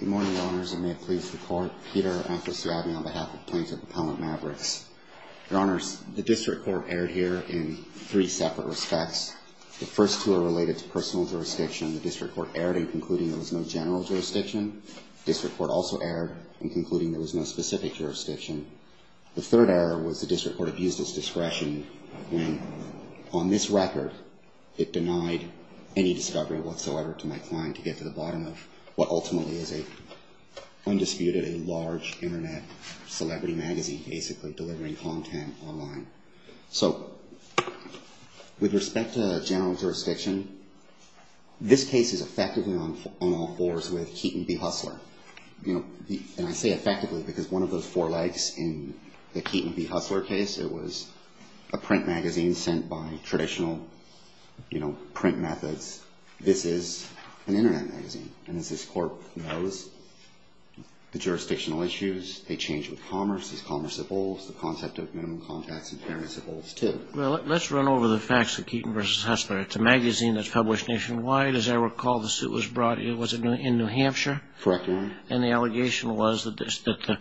Good morning, Your Honors, and may it please the Court, Peter Antosiavian on behalf of Plaintiff Appellant Mavrix. Your Honors, the District Court erred here in three separate respects. The first two are related to personal jurisdiction. The District Court erred in concluding there was no general jurisdiction. The District Court also erred in concluding there was no specific jurisdiction. The third error was the District Court abused its discretion when, on this record, it denied any discovery whatsoever to my client to get to the bottom of what ultimately is a undisputedly large Internet celebrity magazine basically delivering content online. So, with respect to general jurisdiction, this case is effectively on all fours with Keaton v. Hustler. And I say effectively because one of those four legs in the Keaton v. Hustler case, it was a print magazine sent by traditional print methods. This is an Internet magazine. And as this Court knows, the jurisdictional issues, they change with commerce. As commerce evolves, the concept of minimum contacts and fairness evolves, too. Well, let's run over the facts of Keaton v. Hustler. It's a magazine that's published nationwide. As I recall, the suit was brought in, was it in New Hampshire? Correct, Your Honor. And the allegation was that the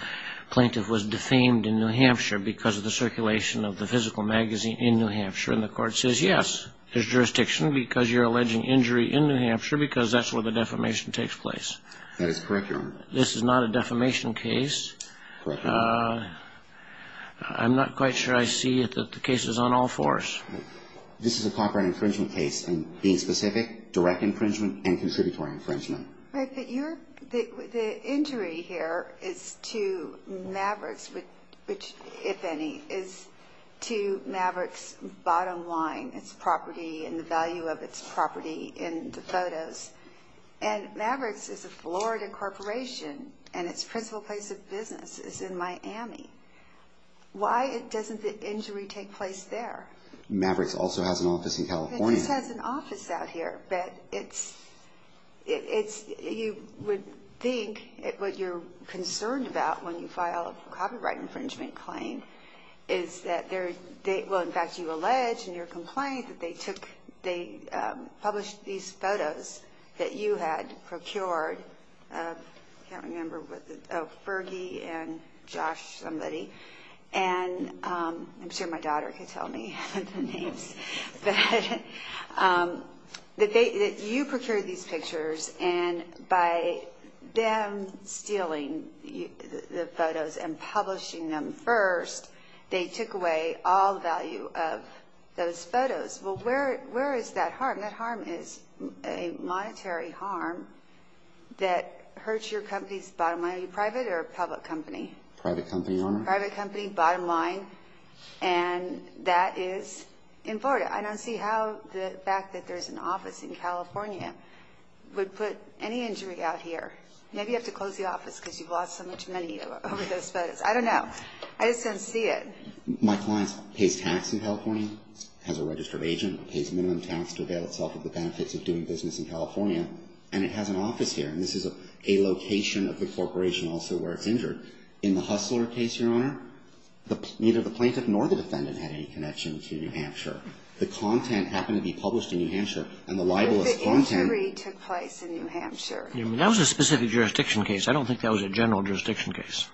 plaintiff was defamed in New Hampshire because of the circulation of the physical magazine in New Hampshire. And the Court says, yes, there's jurisdiction because you're alleging injury in New Hampshire because that's where the defamation takes place. That is correct, Your Honor. This is not a defamation case. I'm not quite sure I see that the case is on all fours. This is a copyright infringement case, and being specific, direct infringement and contributory infringement. Right, but the injury here is to Mavericks, which, if any, is to Mavericks' bottom line, its property and the value of its property in the photos. And Mavericks is a Florida corporation, and its principal place of business is in Miami. Why doesn't the injury take place there? Mavericks also has an office in California. It just has an office out here, but you would think what you're concerned about when you file a copyright infringement claim is that they're... Well, in fact, you allege in your complaint that they published these photos, but they're not in Miami. That you had procured... I can't remember what the... Oh, Fergie and Josh, somebody, and I'm sure my daughter can tell me the names. That you procured these pictures, and by them stealing the photos and publishing them first, they took away all value of those photos. Well, where is that harm? That harm is a monetary harm that hurts your company's bottom line. Are you private or public company? Private company, Your Honor. Private company, bottom line, and that is in Florida. I don't see how the fact that there's an office in California would put any injury out here. Maybe you have to close the office because you've lost so much money over those photos. I don't know. I just don't see it. My client pays tax in California, has a registered agent, pays minimum tax to avail itself of the benefits of doing business in California, and it has an office here. And this is a location of the corporation also where it's injured. In the Hustler case, Your Honor, neither the plaintiff nor the defendant had any connection to New Hampshire. The content happened to be published in New Hampshire, and the libelous content... But the injury took place in New Hampshire. That was a specific jurisdiction case. I don't think that was a general jurisdiction case.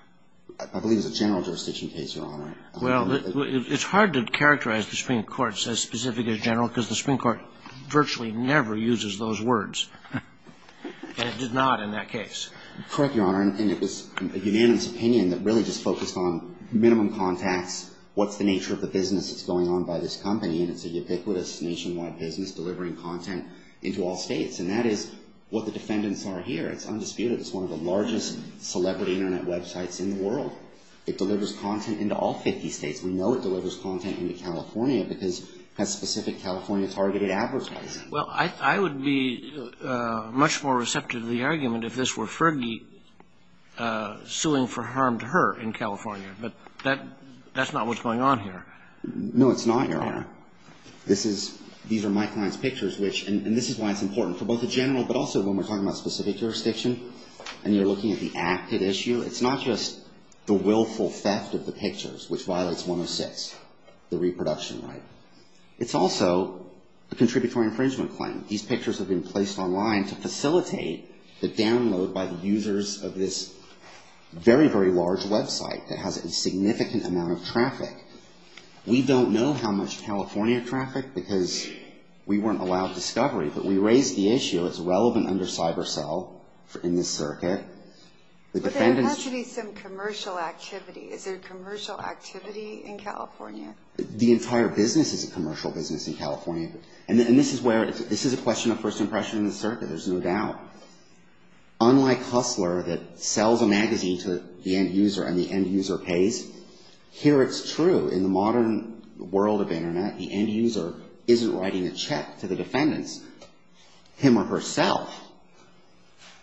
I believe it was a general jurisdiction case, Your Honor. Well, it's hard to characterize the Supreme Court as specific as general because the Supreme Court virtually never uses those words, and it did not in that case. Correct, Your Honor, and it was a unanimous opinion that really just focused on minimum contacts, what's the nature of the business that's going on by this company, and it's a ubiquitous nationwide business delivering content into all states, and that is what the defendants are here. It's undisputed. It's one of the largest celebrity Internet websites in the world. It delivers content into all 50 states. We know it delivers content into California because that's specific California-targeted advertising. Well, I would be much more receptive to the argument if this were Fergie suing for harm to her in California, but that's not what's going on here. No, it's not, Your Honor. This is – these are my client's pictures, which – and this is why it's important for both the general but also when we're talking about specific jurisdiction and you're looking at the active issue, it's not just the willful theft of the pictures, which violates 106, the reproduction right. It's also the contributory infringement claim. These pictures have been placed online to facilitate the download by the users of this very, very large website that has a significant amount of traffic. We don't know how much California traffic because we weren't allowed discovery, but we raised the issue. It's relevant under cyber cell in this circuit. But there has to be some commercial activity. Is there commercial activity in California? The entire business is a commercial business in California. And this is where – this is a question of first impression in the circuit. There's no doubt. Unlike Hustler that sells a magazine to the end user and the end user pays, here it's true. In the modern world of correspondence, him or herself,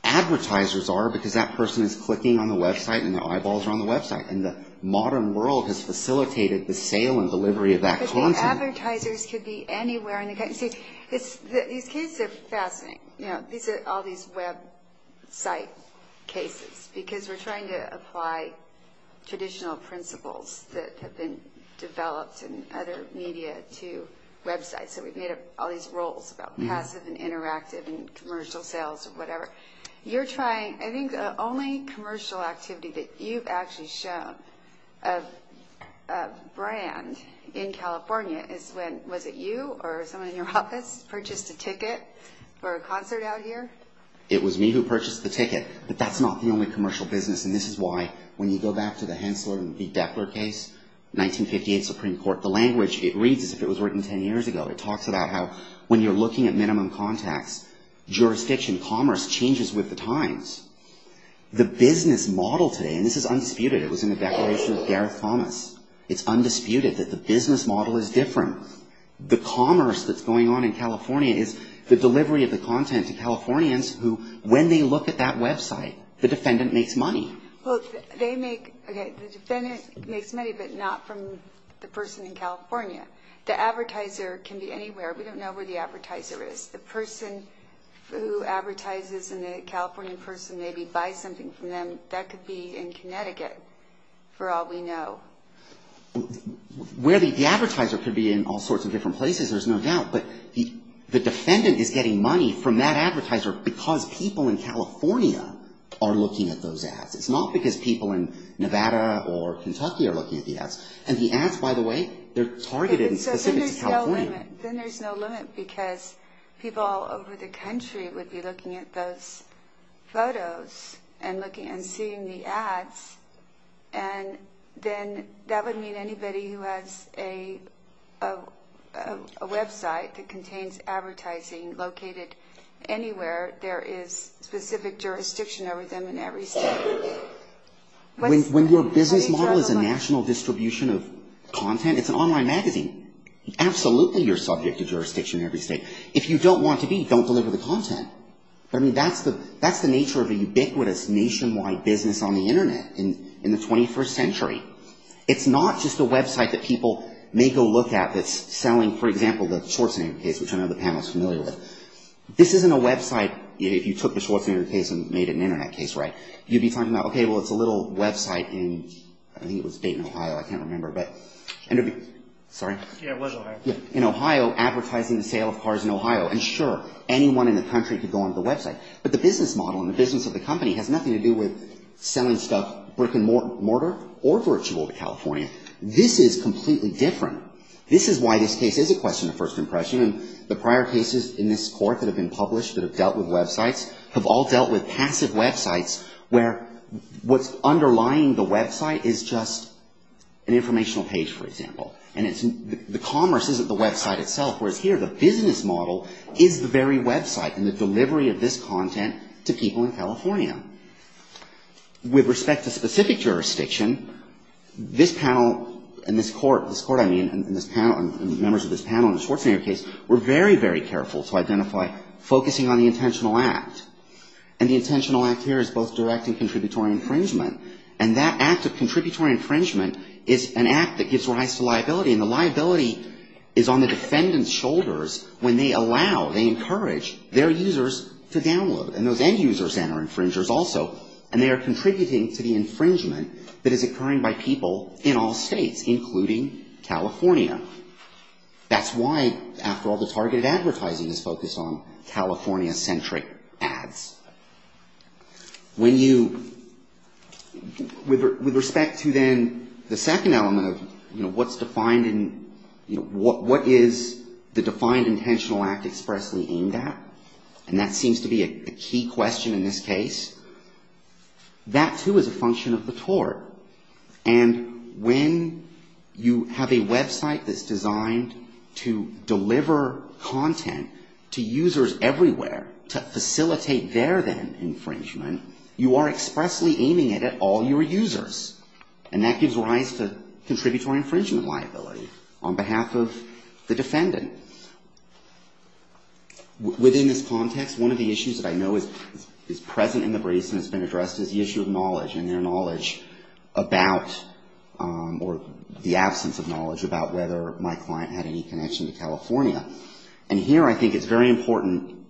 advertisers are because that person is clicking on the website and their eyeballs are on the website. And the modern world has facilitated the sale and delivery of that content. But the advertisers could be anywhere in the country. These cases are fascinating. These are all these website cases because we're trying to apply traditional principles that have been developed in other media to websites. So we've made up all these rules about how to pass an interactive and commercial sales or whatever. You're trying – I think the only commercial activity that you've actually shown a brand in California is when – was it you or someone in your office purchased a ticket for a concert out here? It was me who purchased the ticket. But that's not the only commercial business. And this is why when you go back to the Hensler and B. Depler case, 1958 Supreme Court, the language it reads as if it was written 10 years ago. It talks about how when you're looking at minimum contacts, jurisdiction commerce changes with the times. The business model today – and this is undisputed. It was in the declaration of Gareth Thomas. It's undisputed that the business model is different. The commerce that's going on in California is the delivery of the content to Californians who, when they look at that website, the defendant makes money. Well, they make – okay, the defendant makes money, but not from the person in California. The advertiser can be anywhere. We don't know where the advertiser is. The person who advertises and the Californian person maybe buys something from them, that could be in Connecticut for all we know. The advertiser could be in all sorts of different places, there's no doubt. But the defendant is getting money from that advertiser because people in California are looking at those ads. It's not because people in Nevada or Kentucky are looking at the ads. And the ads, by the way, they're targeted and specific to California. Then there's no limit, because people all over the country would be looking at those photos and looking and seeing the ads, and then that would mean anybody who has a website that contains advertising located anywhere in the country would be looking at those ads. When your business model is a national distribution of content, it's an online magazine. Absolutely you're subject to jurisdiction in every state. If you don't want to be, don't deliver the content. I mean, that's the nature of a ubiquitous nationwide business on the Internet in the 21st century. It's not just a website that people may go look at that's selling, for example, the Schwarzenegger case, which I know the panel is familiar with. This isn't a website if you took the Schwarzenegger case and made it an Internet case, right? You'd be talking about, okay, well, it's a little website in, I think it was Dayton, Ohio, I can't remember, but, sorry? Yeah, it was Ohio. In Ohio, advertising the sale of cars in Ohio, and sure, anyone in the country could go on the website. But the business model and the business model in this case is a question of first impression, and the prior cases in this court that have been published that have dealt with websites have all dealt with passive websites where what's underlying the website is just an informational page, for example. And the commerce isn't the website itself, whereas here the business model is the very website and the delivery of this content to people in California. With respect to specific jurisdiction, this panel and this court, this court, I mean, and this panel and members of the panel in the Schwarzenegger case were very, very careful to identify focusing on the intentional act, and the intentional act here is both direct and contributory infringement, and that act of contributory infringement is an act that gives rise to liability, and the liability is on the defendant's shoulders when they allow, they encourage their users to download, and those end users are infringers also, and they are contributing to the infringement that is occurring by people in all states, including California. That's why, after all, the targeted advertising is focused on California-centric ads. When you, with respect to then the second element of, you know, what's defined in, you know, what is the defined intentional act expressly aimed at, and that seems to be a key question in this case, that, too, is a function of the tort. And when you have a website that's designed to deliver content to users everywhere, to facilitate their then infringement, you are expressly aiming it at all your users, and that gives rise to contributory infringement liability on behalf of the defendant. Within this context, one of the issues that I know is present in the briefs and has been addressed is the issue of knowledge, and their knowledge about, or the absence of knowledge about whether my client had any connection to California. And here I think it's very important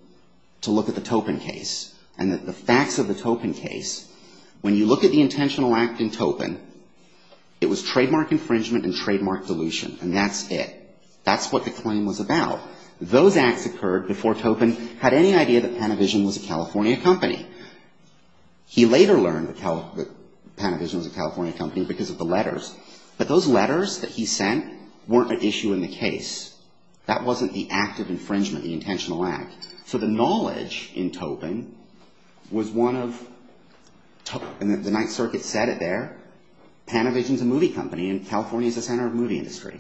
to look at the Topin case, and the facts of the Topin case. When you look at the intentional act in Topin, it was trademark infringement and trademark dilution, and that's it. That's what the claim was about. Those acts occurred before Topin had any idea that Panavision was a California company. He later learned that Panavision was a California company because of the letters. But those letters that he sent weren't an issue in the case. That wasn't the act of infringement, the intentional act. So the knowledge in Topin was one of, and the Ninth Circuit said it there, Panavision is a movie company, and California is the center of movie industry.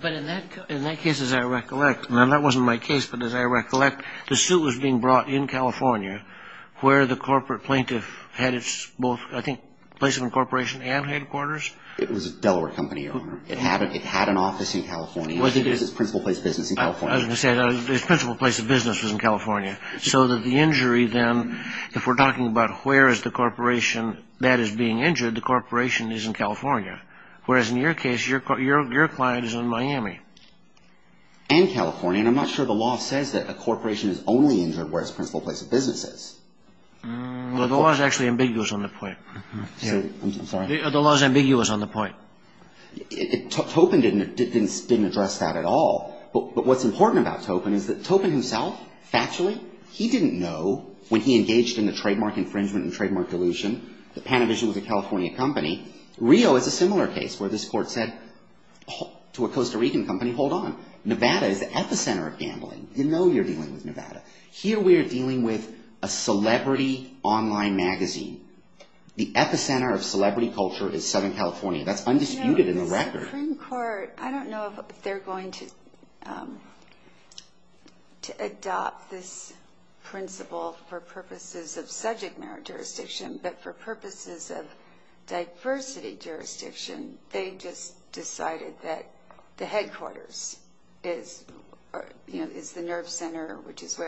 But in that case, as I recollect, and that wasn't my case, but as I recollect, the suit was being brought in California where the principal, I think, place of incorporation and headquarters? It was a Delaware company, Your Honor. It had an office in California. It was its principal place of business in California. I was going to say, its principal place of business was in California. So that the injury then, if we're talking about where is the corporation that is being injured, the corporation is in California. Whereas in your case, your client is in Miami. And California, and I'm not sure the law says that a corporation is only injured where its principal place of business is. The law is actually ambiguous on the point. Topin didn't address that at all. But what's important about Topin is that Topin himself, factually, he didn't know when he engaged in the trademark infringement and trademark dilution that Panavision was a California company. Rio is a similar case where this court said to a Costa Rican company, hold on, Nevada is at the center of gambling. You know you're dealing with a celebrity online magazine. The epicenter of celebrity culture is Southern California. That's undisputed in the record. The Supreme Court, I don't know if they're going to adopt this principle for purposes of subject matter jurisdiction, but for purposes of diversity jurisdiction, they just decided that the headquarters is the nerve center, which is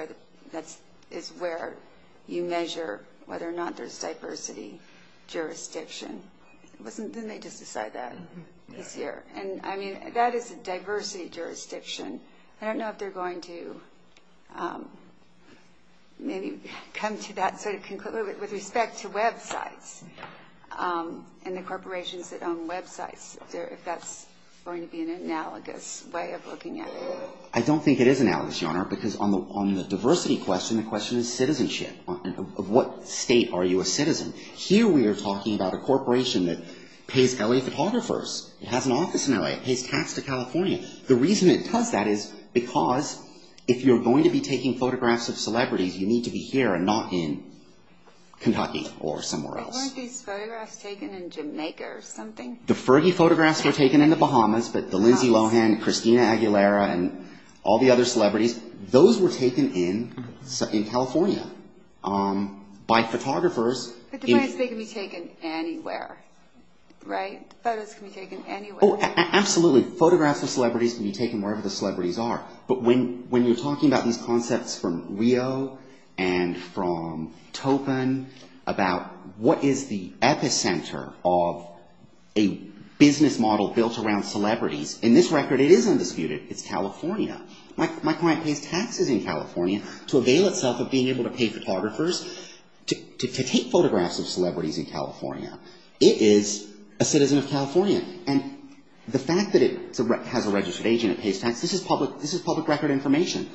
where you measure whether or not there's diversity jurisdiction. Didn't they just decide that this year? And I mean, that is a diversity jurisdiction. I don't know if they're going to maybe come to that sort of conclusion with respect to websites and the corporations that own websites, if that's going to be an analogous way of looking at it. I don't think it is analogous, Your Honor, because on the diversity question, the question is citizenship. Of what state are you a citizen? Here we are talking about a corporation that pays LA photographers. It has an office in LA. It pays tax to California. The reason it does that is because if you're going to be taking photographs of celebrities, you need to be here and not in Kentucky or somewhere else. But weren't these photographs taken in Jamaica or something? The Fergie photographs were taken in the Bahamas, but the Lindsay Lohan, Christina Aguilera and all the other celebrities, those were taken in California by photographers. Photographs can be taken anywhere, right? Photos can be taken anywhere. Absolutely. Photographs of celebrities can be taken wherever the celebrities are. But when you're talking about these concepts from Rio and from Topin about what is the epicenter of a business model built around celebrities, in this record it is undisputed. It's California. My client pays taxes in California to avail itself of being able to pay photographers to take photographs of celebrities in California. It is a citizen of California. And the fact that it has a registered agent, it pays tax, this is public record information.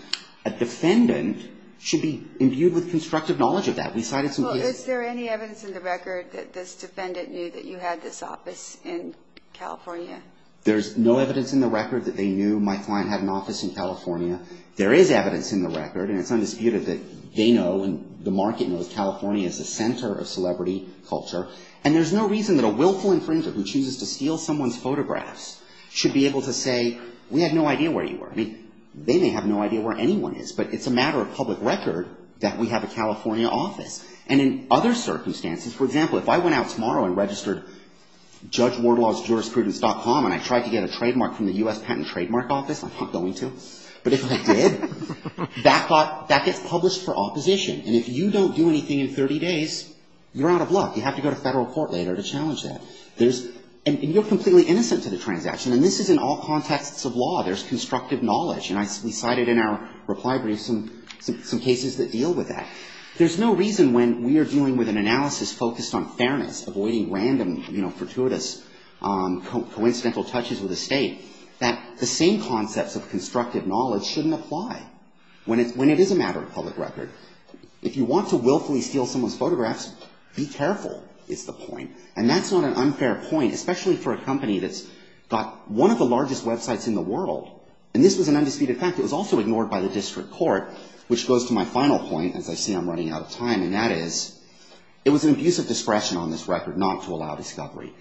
A defendant should be imbued with constructive knowledge of that. Well, is there any evidence in the record that this defendant knew that you had this office in California? There's no evidence in the record that they knew my client had an office in California. There is evidence in the record, and it's undisputed, that they know and the market knows California is the center of celebrity culture. And there's no reason that a willful infringer who chooses to steal someone's photographs should be able to say, we had no idea where you were. I mean, they may have no idea where anyone is, but it's a matter of public record that we have a California office. And in other circumstances, for example, if I went out tomorrow and registered judgewardlawjurisprudence.com and I tried to get a trademark from the U.S. Patent Trademark Office, I'm not going to, but if I did, that gets published for opposition. And if you don't do anything in 30 days, you're out of luck. You have to go to federal court later to challenge that. And you're completely innocent to the transaction. And this is in all contexts of law. There's constructive knowledge. And we cited in our reply brief some cases that deal with that. There's no reason when we are dealing with an analysis focused on fairness, avoiding random, you know, fortuitous coincidental touches with the state, that the same concepts of constructive knowledge shouldn't apply when it is a matter of public record. If you want to willfully steal someone's photographs, be careful, is the point. And that's not an unfair point, especially for a company that's got one of the largest websites in the world. And this was an undisputed fact. It was also ignored by the district court, which goes to my final point, as I see I'm running out of time, and that is, it was an abuse of discretion on this record not to allow discovery.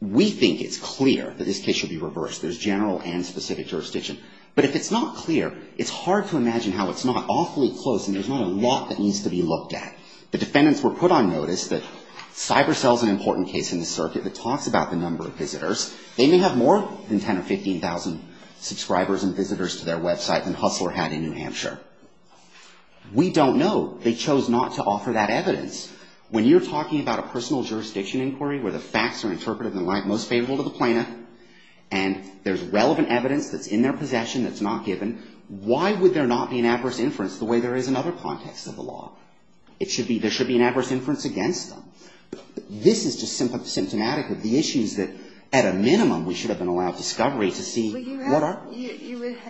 We think it's clear that this case should be reversed. There's general and specific jurisdiction. But if it's not clear, it's hard to imagine how it's not. Awfully close, and there's not a lot that needs to be looked at. The defendants were put on notice that Cybercell is an important case in the circuit that talks about the number of visitors. They may have more than 10 or 15,000 subscribers and visitors to their website than Hustler had in New Hampshire. We don't know. They chose not to offer that evidence. When you're talking about a personal jurisdiction inquiry where the facts are interpreted in the light most favorable to the plaintiff, and there's relevant evidence that's in their possession that's not given, why would there not be an adverse inference the way there is in other contexts of the law? There should be an adverse inference against them. This is just symptomatic of the issues that, at a minimum, we should have been allowed discovery to see what are...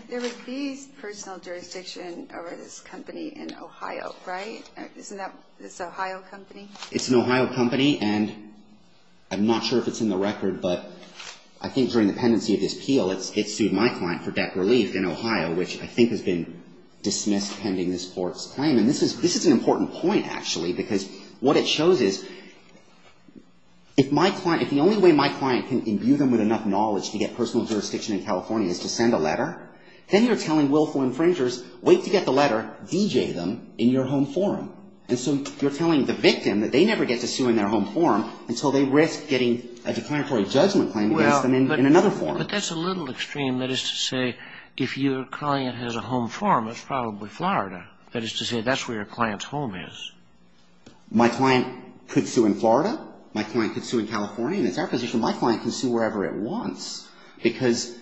There would be personal jurisdiction over this company in Ohio, right? Isn't that this Ohio company? It's an Ohio company, and I'm not sure if it's in the record, but I think during the pendency of this appeal, it sued my client for debt relief in Ohio, which I think has been dismissed pending this court's claim. And this is an important point, actually, because what it shows is if my client, if the only way my client can imbue them with enough knowledge to get personal jurisdiction in California is to send a letter, then you're telling willful infringers, wait to get the letter, DJ them in your home forum. And so you're telling the victim that they never get to sue in their home forum until they risk getting a declaratory judgment claim against them in another forum. But that's a little extreme. That is to say, if your client has a home forum, it's probably Florida. That is to say, that's where your client's home is. My client could sue in Florida. My client could sue in California, and it's our position. My client can sue wherever it wants, because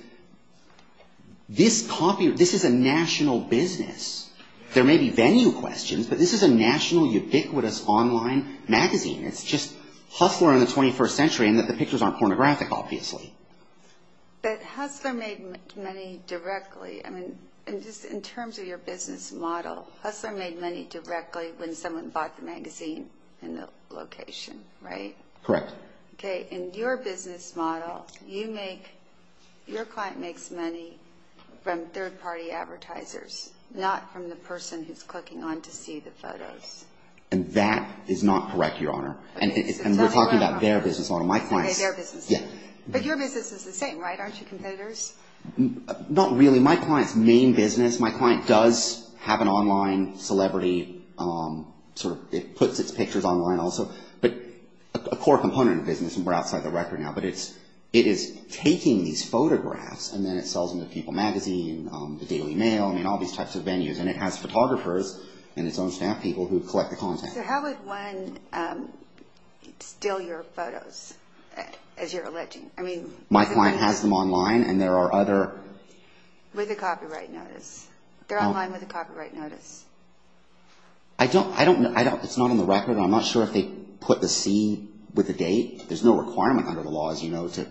this is a national business. There may be venue questions, but this is a national ubiquitous online magazine. It's just Hustler in the 21st century, and the pictures aren't pornographic, obviously. But Hustler made money directly. I mean, in terms of your business model, Hustler made money directly. When someone bought the magazine and the location, right? Correct. Okay. And your business model, you make, your client makes money from third-party advertisers, not from the person who's clicking on to see the photos. And that is not correct, Your Honor. And we're talking about their business model. Okay, their business model. But your business is the same, right? Aren't you competitors? Not really. My client's main business, my client does have an online celebrity. It puts its pictures online also. But a core component of the business, and we're outside the record now, but it is taking these photographs, and then it sells them to People Magazine, the Daily Mail, and all these types of venues. And it has photographers and its own staff people who collect the content. So how would one steal your photos, as you're alleging? My client has them online, and there are other... With a copyright notice. They're online with a copyright notice. I don't, it's not on the record. I'm not sure if they put the C with the date. There's no requirement under the law, as you know, to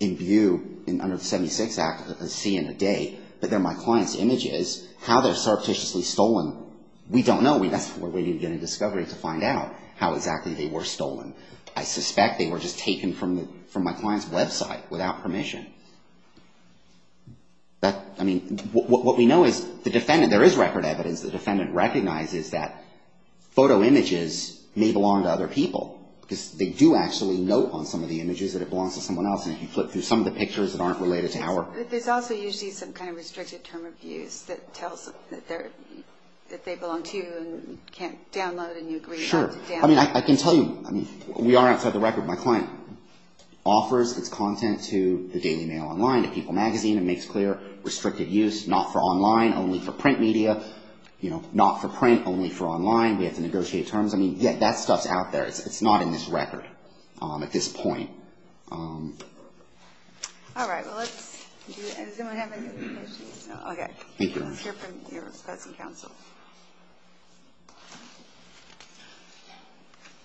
imbue, under the 76 Act, a C and a date. But they're my client's images. How they're surreptitiously stolen, we don't know. We're waiting to get a discovery to find out how exactly they were stolen. I suspect they were just taken from my client's website without permission. I mean, what we know is the defendant, there is record evidence the defendant recognizes that photo images may belong to other people, because they do actually note on some of the images that it belongs to someone else. And if you flip through some of the images, it tells that they belong to you and you can't download, and you agree not to download. Sure. I mean, I can tell you, we are outside the record. My client offers its content to the Daily Mail online, to People Magazine, and makes clear restricted use, not for online, only for print media. You know, not for print, only for online. We have to negotiate terms. I mean, that stuff's out there. It's not in this record at this point. All right. Well, let's, does anyone have any other questions? Okay. Thank you.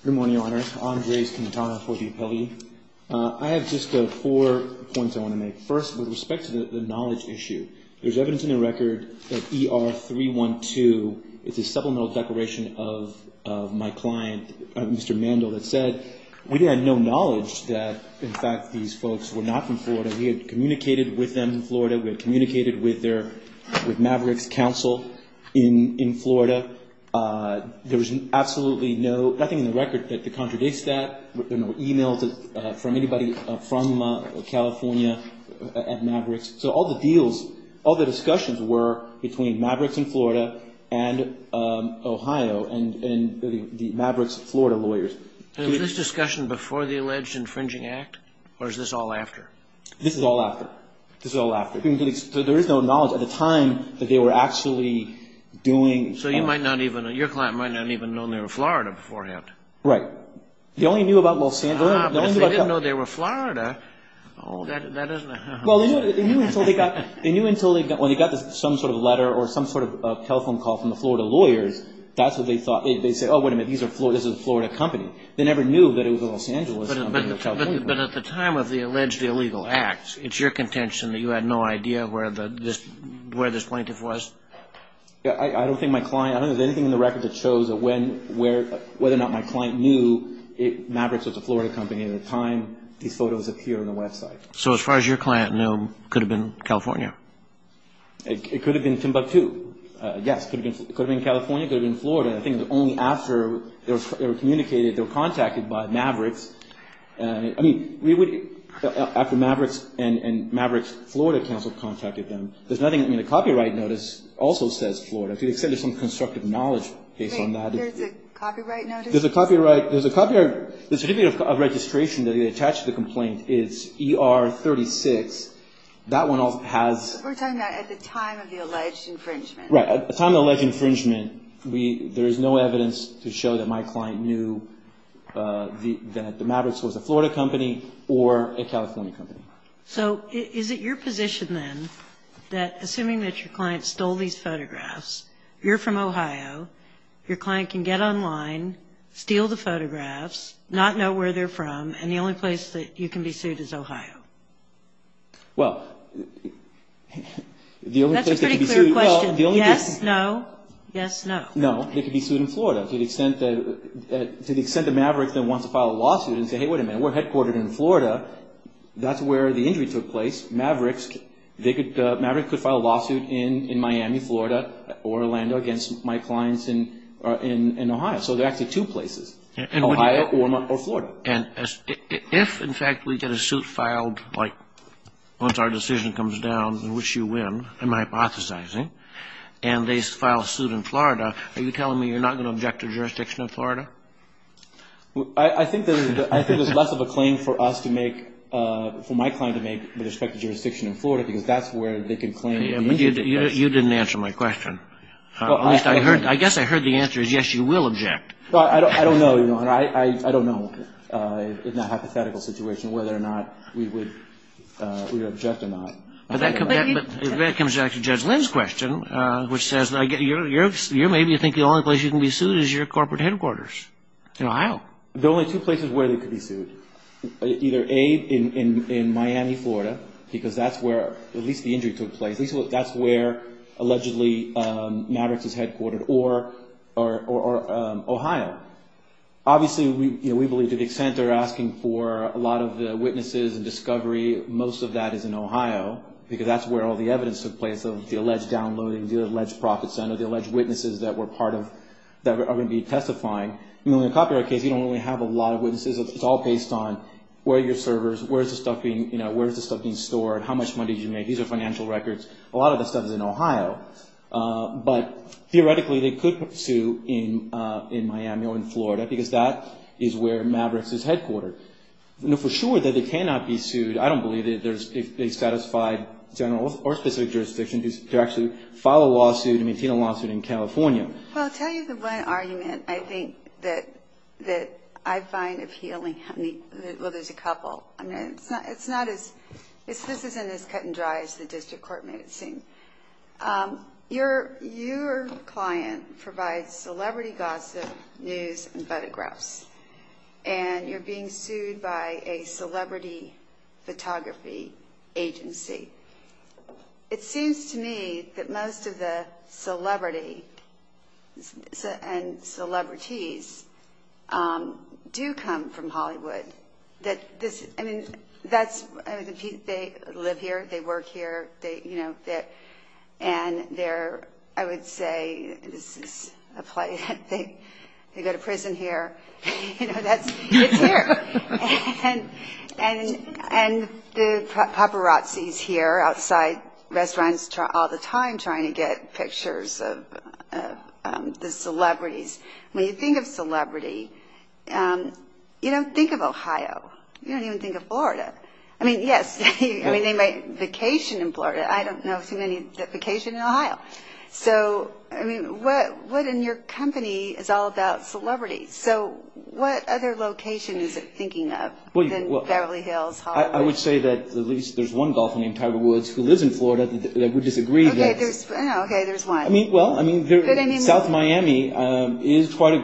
Good morning, Your Honors. Andres Quintana for the appellee. I have just four points I want to make. First, with respect to the knowledge issue, there's evidence in the record that ER 312, it's a supplemental declaration of my client, Mr. Mandel, that said we had no knowledge that, in fact, these folks were not from Florida. We had communicated with them in Florida. We had communicated with their, with Maverick's counsel in Florida. There was absolutely no, nothing in the record that contradicts that. There were no e-mails from anybody from California at Maverick's. So all the deals, all the discussions were between Maverick's in Florida and Ohio and the Maverick's Florida lawyers. And was this discussion before the alleged infringing act, or is this all after? This is all after. This is all after. There is no knowledge at the time that they were actually doing So you might not even, your client might not even have known they were Florida beforehand. Right. They only knew about Los Angeles. But if they didn't know they were Florida, oh, that isn't... Well, they knew until they got some sort of letter or some sort of telephone call from the Florida lawyers. That's what they thought. They said, oh, wait a minute, this is a Florida company. They never knew that it was a Los Angeles company. But at the time of the alleged illegal act, it's your contention that you had no idea where this plaintiff was? I don't think my client, I don't know if there's anything in the record that shows whether or not my client knew Maverick's was a So as far as your client knew, it could have been California? It could have been Timbuktu. Yes, it could have been California, it could have been Florida. I think it was only after they were communicated, they were contacted by Maverick's. I mean, we would, after Maverick's and Maverick's Florida counsel contacted them. There's nothing in the copyright notice also says Florida. There's a copy of registration that they attach to the complaint. It's ER 36. That one has... We're talking about at the time of the alleged infringement. At the time of the alleged infringement, there is no evidence to show that my client knew that Maverick's was a Florida company or a California company. So is it your position then that assuming that your client stole these photographs, you're from Ohio, your client can get online, steal the photographs, not know where they're from, and the only place that you can be sued is Ohio? Well, the only place... That's a pretty clear question. Yes, no, yes, no. They could be sued in Florida. To the extent that Maverick wants to file a lawsuit and say, hey, wait a minute, we're headquartered in Florida. That's where the injury took place. Maverick could file a lawsuit in Miami, Florida, or Orlando against my clients in Ohio. So there are actually two places, Ohio or Florida. And if, in fact, we get a suit filed, like, once our decision comes down, in which you win, I'm hypothesizing, and they file a suit in Florida, are you telling me you're not going to object to jurisdiction in Florida? I think there's less of a claim for us to make, for my client to make with respect to jurisdiction in Florida, because that's where they can claim the injury took place. You didn't answer my question. I guess I heard the answer is yes, you will object. I don't know, Your Honor. I don't know, in that hypothetical situation, whether or not we would object or not. But that comes back to Judge Lynn's question, which says you maybe think the only place you can be sued is your corporate headquarters in Ohio. There are only two places where they could be sued. Either A, in Miami, Florida, because that's where at least the injury took place. That's where, allegedly, Mavericks is headquartered, or Ohio. Obviously, we believe to the extent they're asking for a lot of the witnesses and discovery, most of that is in Ohio, because that's where all the evidence took place of the alleged downloading, the alleged profit center, the alleged witnesses that are going to be testifying. In a copyright case, you don't really have a lot of witnesses. It's all based on where are your servers, where is the stuff being stored, how much money did you make. These are financial records. A lot of the stuff is in Ohio. But theoretically, they could sue in Miami or in Florida, because that is where Mavericks is headquartered. For sure that they cannot be sued, I don't believe that there's a satisfied general or specific jurisdiction to actually file a lawsuit and maintain a lawsuit in California. Well, I'll tell you the one argument I think that I find appealing. Well, there's a couple. This isn't as cut and dry as the district court made it seem. Your client provides celebrity gossip, news and photographs, and you're being sued by a celebrity photography agency. It seems to me that most of the celebrity and celebrities do come from Hollywood. I mean, they live here, they work here, and they're, I would say, this is a play, they go to prison here. You know, it's there. And the paparazzis here outside restaurants all the time trying to get pictures of the celebrities. When you think of celebrity, you don't think of Ohio. You don't even think of Florida. I mean, yes, vacation in Florida. I don't know too many vacation in Ohio. So, I mean, what in your company is all about celebrities? So, what other location is it thinking of than Beverly Hills, Hollywood? I would say that at least there's one golfing in Tiger Woods who lives in Florida that would disagree. Okay, there's one. Well, I mean, South Miami, there's quite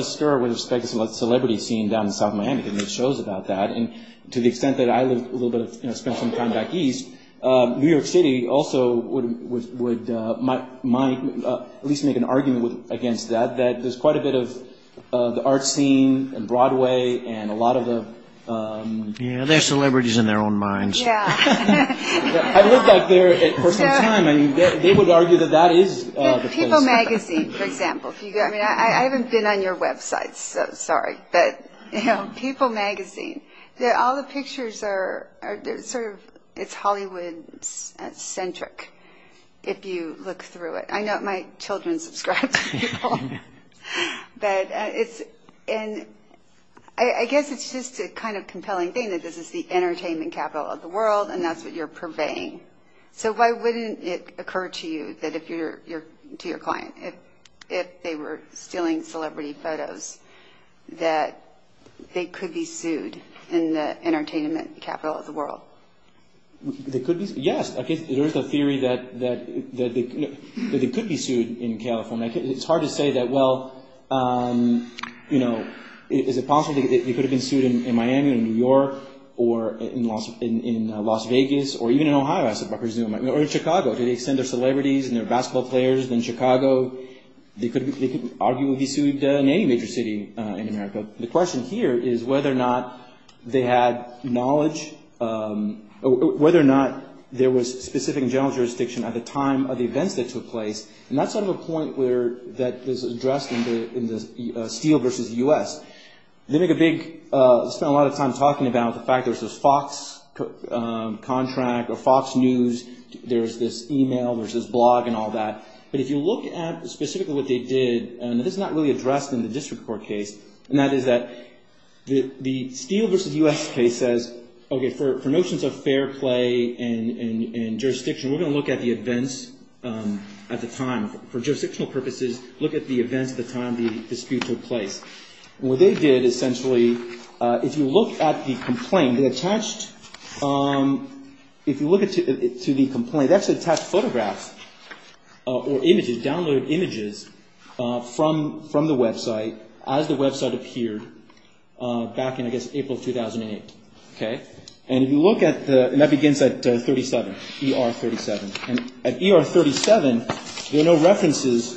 a stir with respect to celebrity scene down in South Miami. They make shows about that. And to the extent that I lived a little bit, you know, spent some time back east, New York City also would at least make an argument against that, that there's quite a bit of the art scene and Broadway and a lot of the... Yeah, they're celebrities in their own minds. I lived back there for some time. I mean, they would argue that that is... People Magazine, for example. I haven't been on your website, so sorry. People Magazine, all the pictures are sort of, it's Hollywood-centric if you look through it. I know my children subscribe to people. I guess it's just a kind of compelling thing that this is the entertainment capital of the world and that's what you're purveying. So why wouldn't it occur to you, to your client, if they were stealing celebrity photos, that they could be sued in the entertainment capital of the world? Yes, there is a theory that they could be sued in California. It's hard to say that, well, you know, is it possible they could have been sued in Miami or New York or in Las Vegas or even in Ohio, I presume, or in Chicago. Do they send their celebrities and their basketball players in Chicago? They could argue they would be sued in any major city in America. The question here is whether or not they had knowledge, whether or not there was specific general jurisdiction at the time of the events that took place. And that's sort of a point that is addressed in the steel versus U.S. They make a big, spend a lot of time talking about the fact there's this Fox contract or Fox News, there's this email, there's this blog and all that. But if you look at specifically what they did, and this is not really addressed in the district court case, and that is that the steel versus U.S. case says, okay, for notions of fair play and jurisdiction, we're going to look at the events at the time. For jurisdictional purposes, look at the events at the time the dispute took place. And what they did, essentially, if you look at the complaint, they attached, if you look at the complaint, they actually attached photographs or images, downloaded images from the website as the website appeared back in, I guess, April 2008. And if you look at the, and that begins at 37, ER 37. And at ER 37, there are no references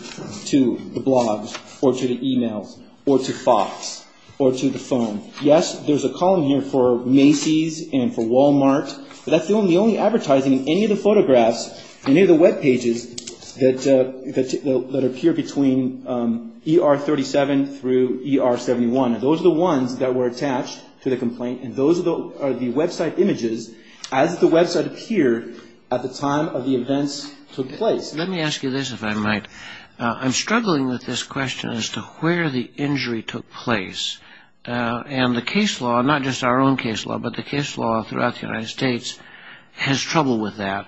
to the blogs or to the emails or to Fox or to the phone. Yes, there's a column here for Macy's and for Wal-Mart, but that's the only advertising in any of the photographs, any of the webpages, that appear between ER 37 through ER 71. And those are the ones that were attached to the complaint, and those are the website images as the website appeared at the time of the events took place. Let me ask you this, if I might. I'm struggling with this question as to where the injury took place. And the case law, not just our own case law, but the case law throughout the United States, has trouble with that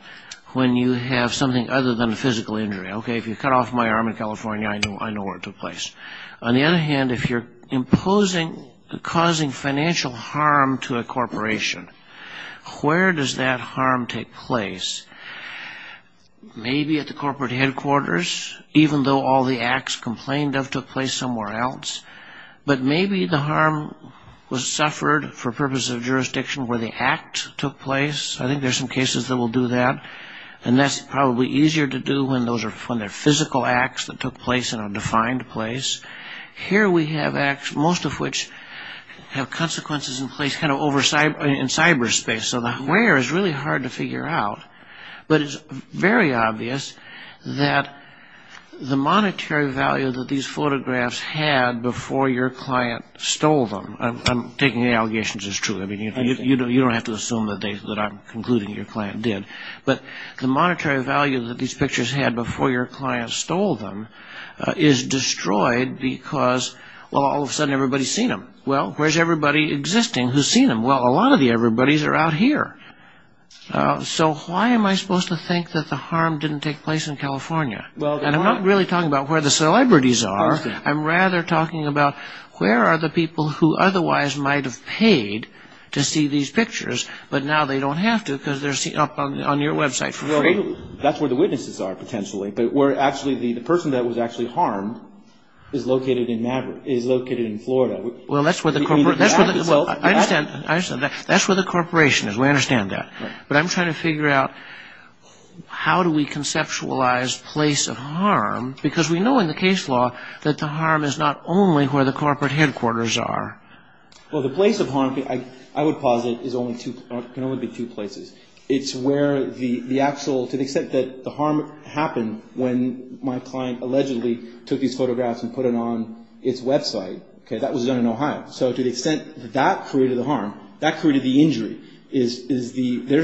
when you have something other than a physical injury. Okay, if you cut off my arm in California, I know where it took place. On the other hand, if you're imposing, causing financial harm to a corporation, where does that harm take place? Maybe at the corporate headquarters, even though all the acts complained of took place somewhere else. But maybe the harm was suffered for purposes of jurisdiction where the act took place. I think there's some cases that will do that, and that's probably easier to do when they're physical acts that took place in a defined place. Here we have acts, most of which have consequences in cyberspace, so the where is really hard to figure out. But it's very obvious that the monetary value that these photographs had before your client stole them. I'm taking the allegations as true. You don't have to assume that I'm concluding your client did. But the monetary value that these pictures had before your client stole them is destroyed because all of a sudden everybody's seen them. Well, where's everybody existing who's seen them? Well, a lot of the everybodies are out here. So why am I supposed to think that the harm didn't take place in California? And I'm not really talking about where the celebrities are. I'm rather talking about where are the people who otherwise might have paid to see these pictures, but now they don't have to because they're seen up on your website for free. That's where the witnesses are potentially, but where actually the person that was actually harmed is located in Florida. Well, that's where the corporation is. We understand that. But I'm trying to figure out how do we conceptualize place of harm because we know in the case law that the harm is not only where the corporate headquarters are. Well, the place of harm, I would posit, can only be two places. It's where the actual, to the extent that the harm happened when my client allegedly took these photographs and put it on its website. That was done in Ohio. So to the extent that that created the harm, that created the injury, there's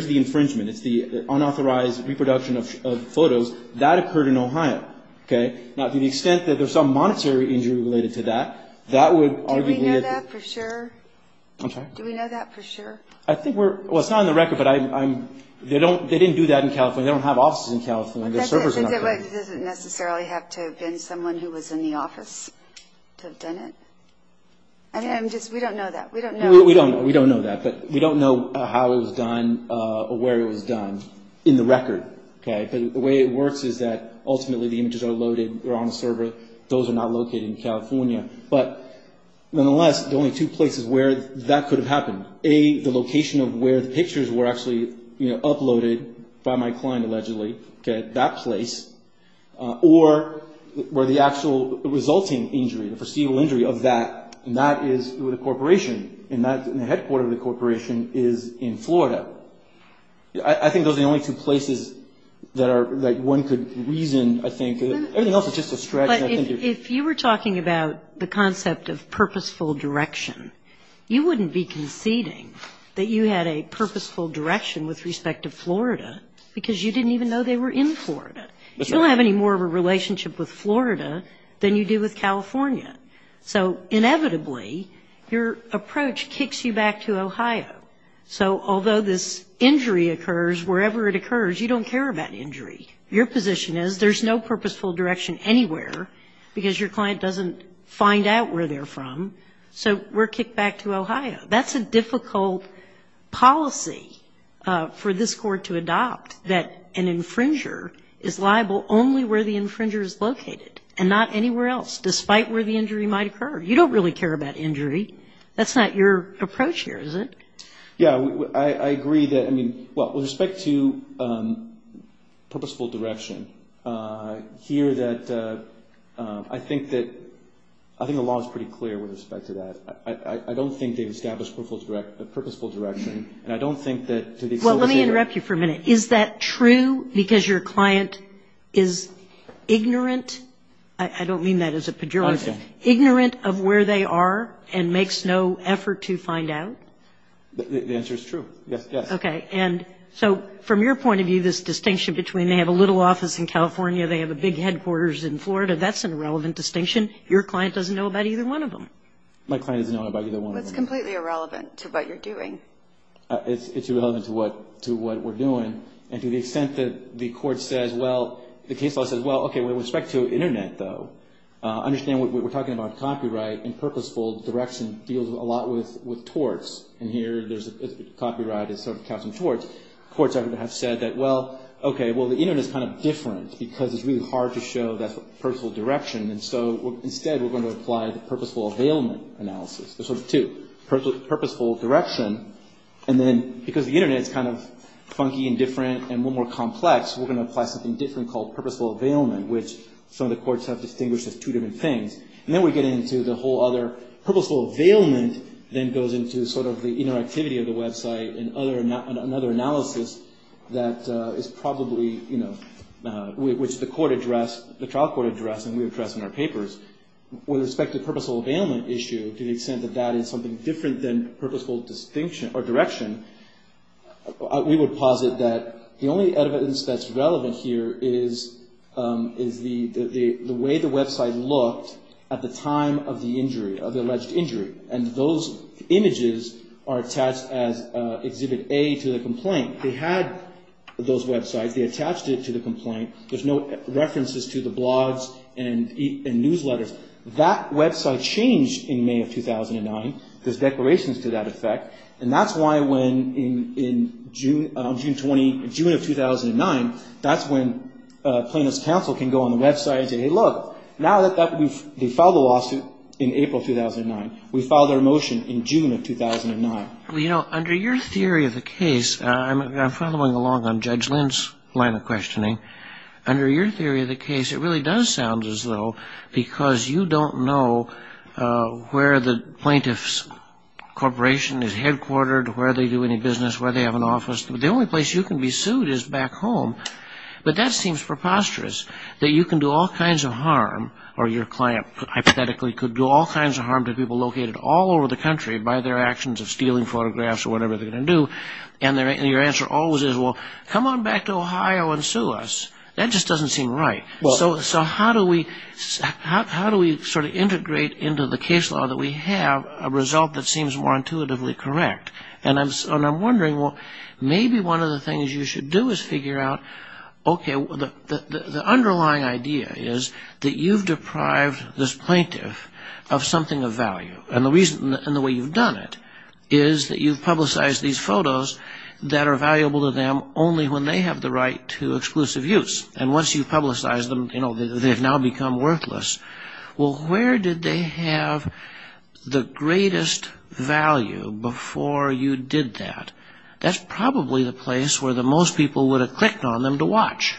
the infringement. It's the unauthorized reproduction of photos. That occurred in Ohio. Now, to the extent that there's some monetary injury related to that, that would arguably... Do we know that for sure? I'm sorry? Do we know that for sure? I think we're... Well, it's not on the record, but they didn't do that in California. They don't have offices in California. Their servers are not there. It doesn't necessarily have to have been someone who was in the office to have done it. We don't know that. We don't know. We don't know that. But we don't know how it was done or where it was done in the record. But the way it works is that ultimately the images are loaded. They're on a server. Those are not located in California. But nonetheless, the only two places where that could have happened, A, the location of where the pictures were actually uploaded by my client, allegedly, that place, or where the actual resulting injury, the foreseeable injury of that, and that is with a corporation, and the headquarter of the corporation is in Florida. I think those are the only two places that one could reason, I think. Everything else is just a stretch. Well, if you were talking about the concept of purposeful direction, you wouldn't be conceding that you had a purposeful direction with respect to Florida because you didn't even know they were in Florida. You don't have any more of a relationship with Florida than you do with California. So inevitably, your approach kicks you back to Ohio. So although this injury occurs wherever it occurs, you don't care about injury. Your position is there's no purposeful direction anywhere because your client doesn't find out where they're from, so we're kicked back to Ohio. That's a difficult policy for this court to adopt, that an infringer is liable only where the infringer is located and not anywhere else, despite where the injury might occur. You don't really care about injury. That's not your approach here, is it? Yeah. I agree that, I mean, well, with respect to purposeful direction, here that I think that the law is pretty clear with respect to that. I don't think they've established a purposeful direction, and I don't think that to the extent that they are. Well, let me interrupt you for a minute. Is that true because your client is ignorant? I don't mean that as a pejorative. Ignorant of where they are and makes no effort to find out? The answer is true, yes. Okay. And so from your point of view, this distinction between they have a little office in California, they have a big headquarters in Florida, that's an irrelevant distinction. Your client doesn't know about either one of them. My client doesn't know about either one of them. Well, it's completely irrelevant to what you're doing. It's irrelevant to what we're doing. And to the extent that the court says, well, the case law says, well, okay, with respect to Internet, though, understand what we're talking about copyright and purposeful direction deals a lot with torts. And here there's copyright is sort of casting torts. Courts have said that, well, okay, well, the Internet is kind of different because it's really hard to show that purposeful direction. And so instead we're going to apply the purposeful availment analysis. There's sort of two, purposeful direction, and then because the Internet is kind of funky and different and a little more complex, we're going to apply something different called purposeful availment, which some of the courts have distinguished as two different things. And then we get into the whole other purposeful availment, then goes into sort of the interactivity of the website and another analysis that is probably, you know, which the court addressed, the trial court addressed, and we addressed in our papers. With respect to purposeful availment issue, to the extent that that is something different than purposeful direction, we would posit that the only evidence that's relevant here is the way the website looked at the time of the injury, of the alleged injury. And those images are attached as Exhibit A to the complaint. They had those websites. They attached it to the complaint. There's no references to the blogs and newsletters. That website changed in May of 2009. There's declarations to that effect. And that's why when in June of 2009, that's when plaintiff's counsel can go on the website and say, hey, look, now that we've filed the lawsuit in April 2009, we filed our motion in June of 2009. Well, you know, under your theory of the case, I'm following along on Judge Lynn's line of questioning, under your theory of the case it really does sound as though because you don't know where the plaintiff's corporation is headquartered, where they do any business, where they have an office. The only place you can be sued is back home. But that seems preposterous, that you can do all kinds of harm, or your client hypothetically could do all kinds of harm to people located all over the country by their actions of stealing photographs or whatever they're going to do, and your answer always is, well, come on back to Ohio and sue us. That just doesn't seem right. So how do we sort of integrate into the case law that we have a result that seems more intuitively correct? And I'm wondering, well, maybe one of the things you should do is figure out, okay, the underlying idea is that you've deprived this plaintiff of something of value. And the way you've done it is that you've publicized these photos that are valuable to them only when they have the right to exclusive use. And once you've publicized them, you know, they've now become worthless. Well, where did they have the greatest value before you did that? That's probably the place where most people would have clicked on them to watch.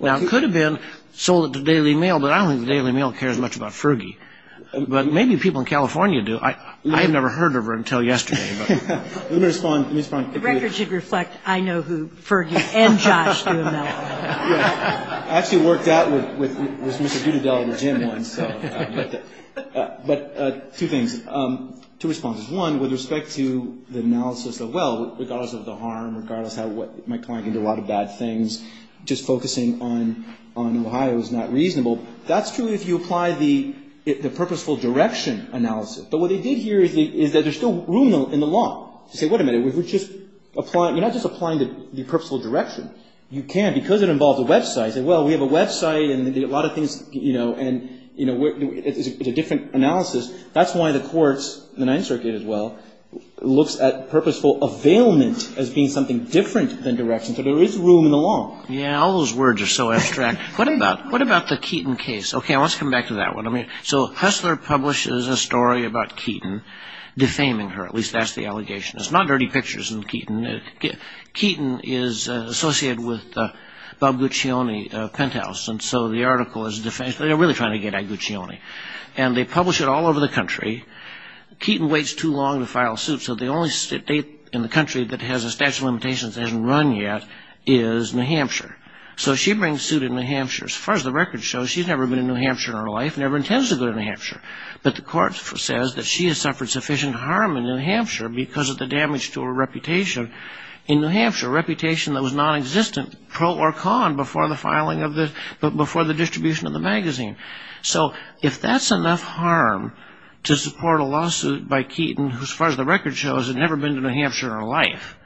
Now, it could have been sold at the Daily Mail, but I don't think the Daily Mail cares much about Fergie. But maybe people in California do. I had never heard of her until yesterday. Let me respond. The record should reflect, I know who Fergie and Josh Duhamel are. I actually worked out with Mr. Dutadell at the gym once. But two things, two responses. One, with respect to the analysis of, well, regardless of the harm, regardless of how my client can do a lot of bad things, just focusing on Ohio is not reasonable. That's true if you apply the purposeful direction analysis. But what they did here is that there's still room in the law to say, wait a minute, you're not just applying the purposeful direction. You can, because it involves a website. Well, we have a website and a lot of things, you know, and it's a different analysis. That's why the courts, the Ninth Circuit as well, looks at purposeful availment as being something different than direction. So there is room in the law. Yeah, all those words are so abstract. What about the Keaton case? Okay, let's come back to that one. So Hussler publishes a story about Keaton defaming her, at least that's the allegation. It's not dirty pictures of Keaton. Keaton is associated with the Bob Guccione penthouse, and so the article is defamation. They're really trying to get at Guccione. And they publish it all over the country. Keaton waits too long to file a suit, so the only state in the country that has a statute of limitations that hasn't run yet is New Hampshire. So she brings suit in New Hampshire. As far as the records show, she's never been to New Hampshire in her life, never intends to go to New Hampshire. But the court says that she has suffered sufficient harm in New Hampshire because of the damage to her reputation in New Hampshire, a reputation that was nonexistent, pro or con, before the distribution of the magazine. So if that's enough harm to support a lawsuit by Keaton, as far as the records show, has never been to New Hampshire in her life,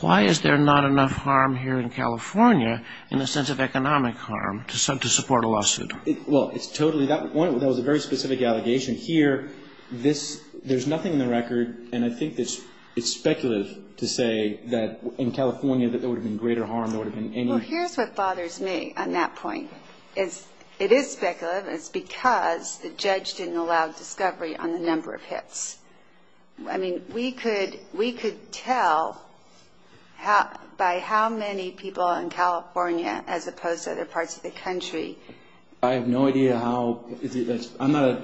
why is there not enough harm here in California in the sense of economic harm to support a lawsuit? Well, it's totally that point. That was a very specific allegation. Here, there's nothing in the record, and I think it's speculative to say that in California that there would have been greater harm, there would have been any. Well, here's what bothers me on that point. It is speculative. It's because the judge didn't allow discovery on the number of hits. I mean, we could tell by how many people in California as opposed to other parts of the country. I have no idea how. I'm not a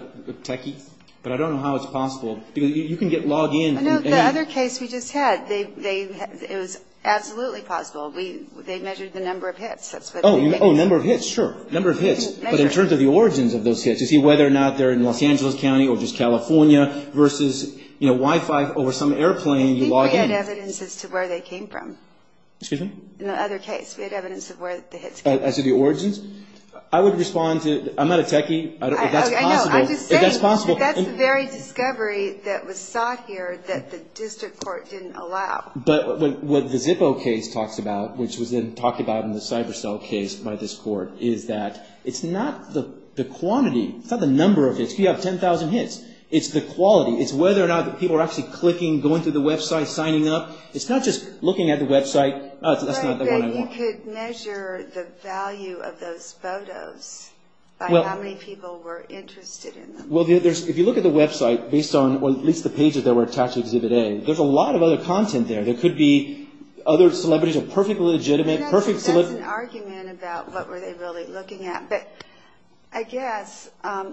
techie, but I don't know how it's possible. You can get logged in. The other case we just had, it was absolutely possible. They measured the number of hits. Oh, number of hits, sure, number of hits. But in terms of the origins of those hits, you see, whether or not they're in Los Angeles County or just California versus, you know, Wi-Fi over some airplane, you log in. I think we had evidence as to where they came from. Excuse me? In the other case, we had evidence of where the hits came from. As to the origins? I would respond to – I'm not a techie. I don't know if that's possible. I know. I'm just saying that that's the very discovery that was sought here that the district court didn't allow. But what the Zippo case talks about, which was then talked about in the CyberSell case by this court, is that it's not the quantity, it's not the number of hits. If you have 10,000 hits, it's the quality. It's whether or not people are actually clicking, going to the website, signing up. It's not just looking at the website. That's not the one I want. But you could measure the value of those photos by how many people were interested in them. Well, if you look at the website based on at least the pages that were attached to Exhibit A, there's a lot of other content there. There could be other celebrities, a perfectly legitimate – It's an argument about what were they really looking at. But I guess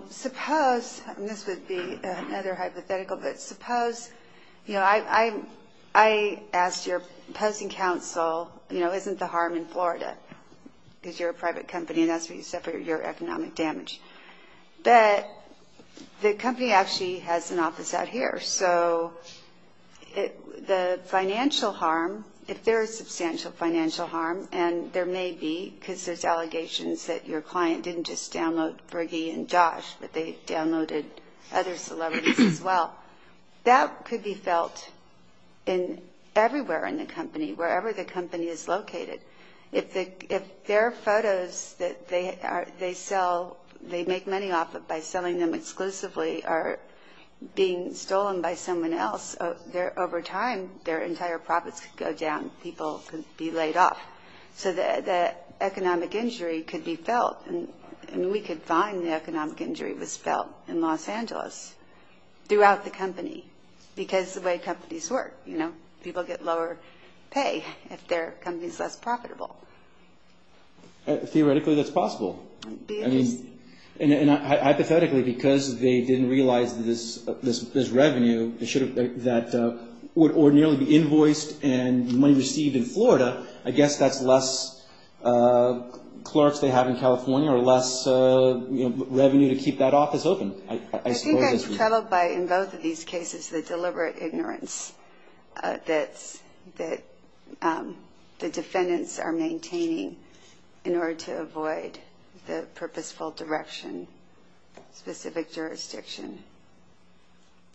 suppose – and this would be another hypothetical, but suppose – I asked your opposing counsel, isn't the harm in Florida? Because you're a private company and that's where you suffer your economic damage. But the company actually has an office out here, so the financial harm, if there is substantial financial harm, and there may be, because there's allegations that your client didn't just download Bergie and Josh, but they downloaded other celebrities as well, that could be felt everywhere in the company, wherever the company is located. If their photos that they sell, they make money off of by selling them exclusively, are being stolen by someone else, over time their entire profits could go down. People could be laid off. So the economic injury could be felt, and we could find the economic injury was felt in Los Angeles throughout the company because of the way companies work. People get lower pay if their company is less profitable. Theoretically, that's possible. And hypothetically, because they didn't realize this revenue that would ordinarily be invoiced and money received in Florida, I guess that's less clerks they have in California or less revenue to keep that office open. I think I'm troubled by, in both of these cases, the deliberate ignorance that the defendants are maintaining in order to avoid the purposeful direction, specific jurisdiction.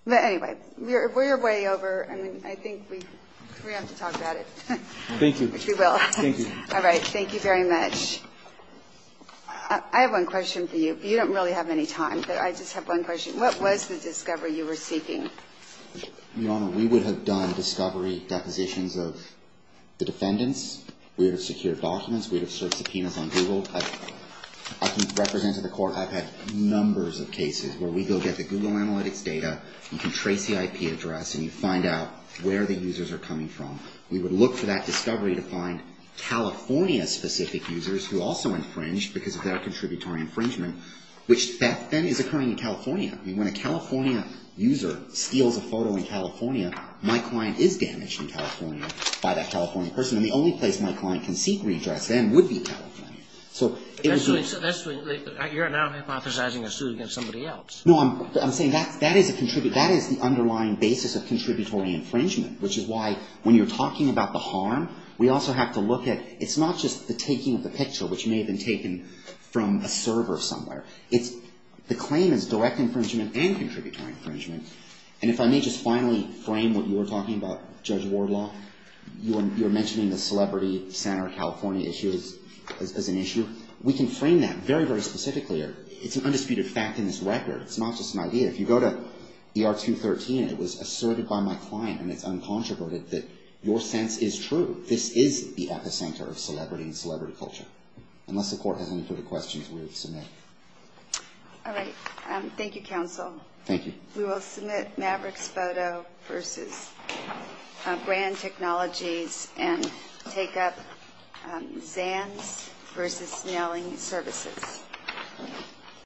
But anyway, we're way over. I mean, I think we have to talk about it. Thank you. All right. Thank you very much. I have one question for you. You don't really have any time, but I just have one question. What was the discovery you were seeking? Your Honor, we would have done discovery depositions of the defendants. We would have secured documents. We would have served subpoenas on Google. I can represent to the court I've had numbers of cases where we go get the Google analytics data. You can trace the IP address, and you find out where the users are coming from. We would look for that discovery to find California-specific users who also infringed because of their contributory infringement, which then is occurring in California. I mean, when a California user steals a photo in California, my client is damaged in California by that California person, and the only place my client can seek redress then would be California. So it was a... You're now hypothesizing a suit against somebody else. No, I'm saying that is the underlying basis of contributory infringement, which is why when you're talking about the harm, we also have to look at, it's not just the taking of the picture, which may have been taken from a server somewhere. It's... The claim is direct infringement and contributory infringement. And if I may just finally frame what you were talking about, Judge Wardlaw, you were mentioning the celebrity center California issue as an issue. We can frame that very, very specifically. It's an undisputed fact in this record. It's not just an idea. If you go to ER 213, it was asserted by my client, and it's uncontroverted that your sense is true. This is the epicenter of celebrity and celebrity culture, unless the court has any further questions we would submit. All right. Thank you, counsel. Thank you. We will submit Maverick's photo versus brand technologies and take up Zans versus nailing services.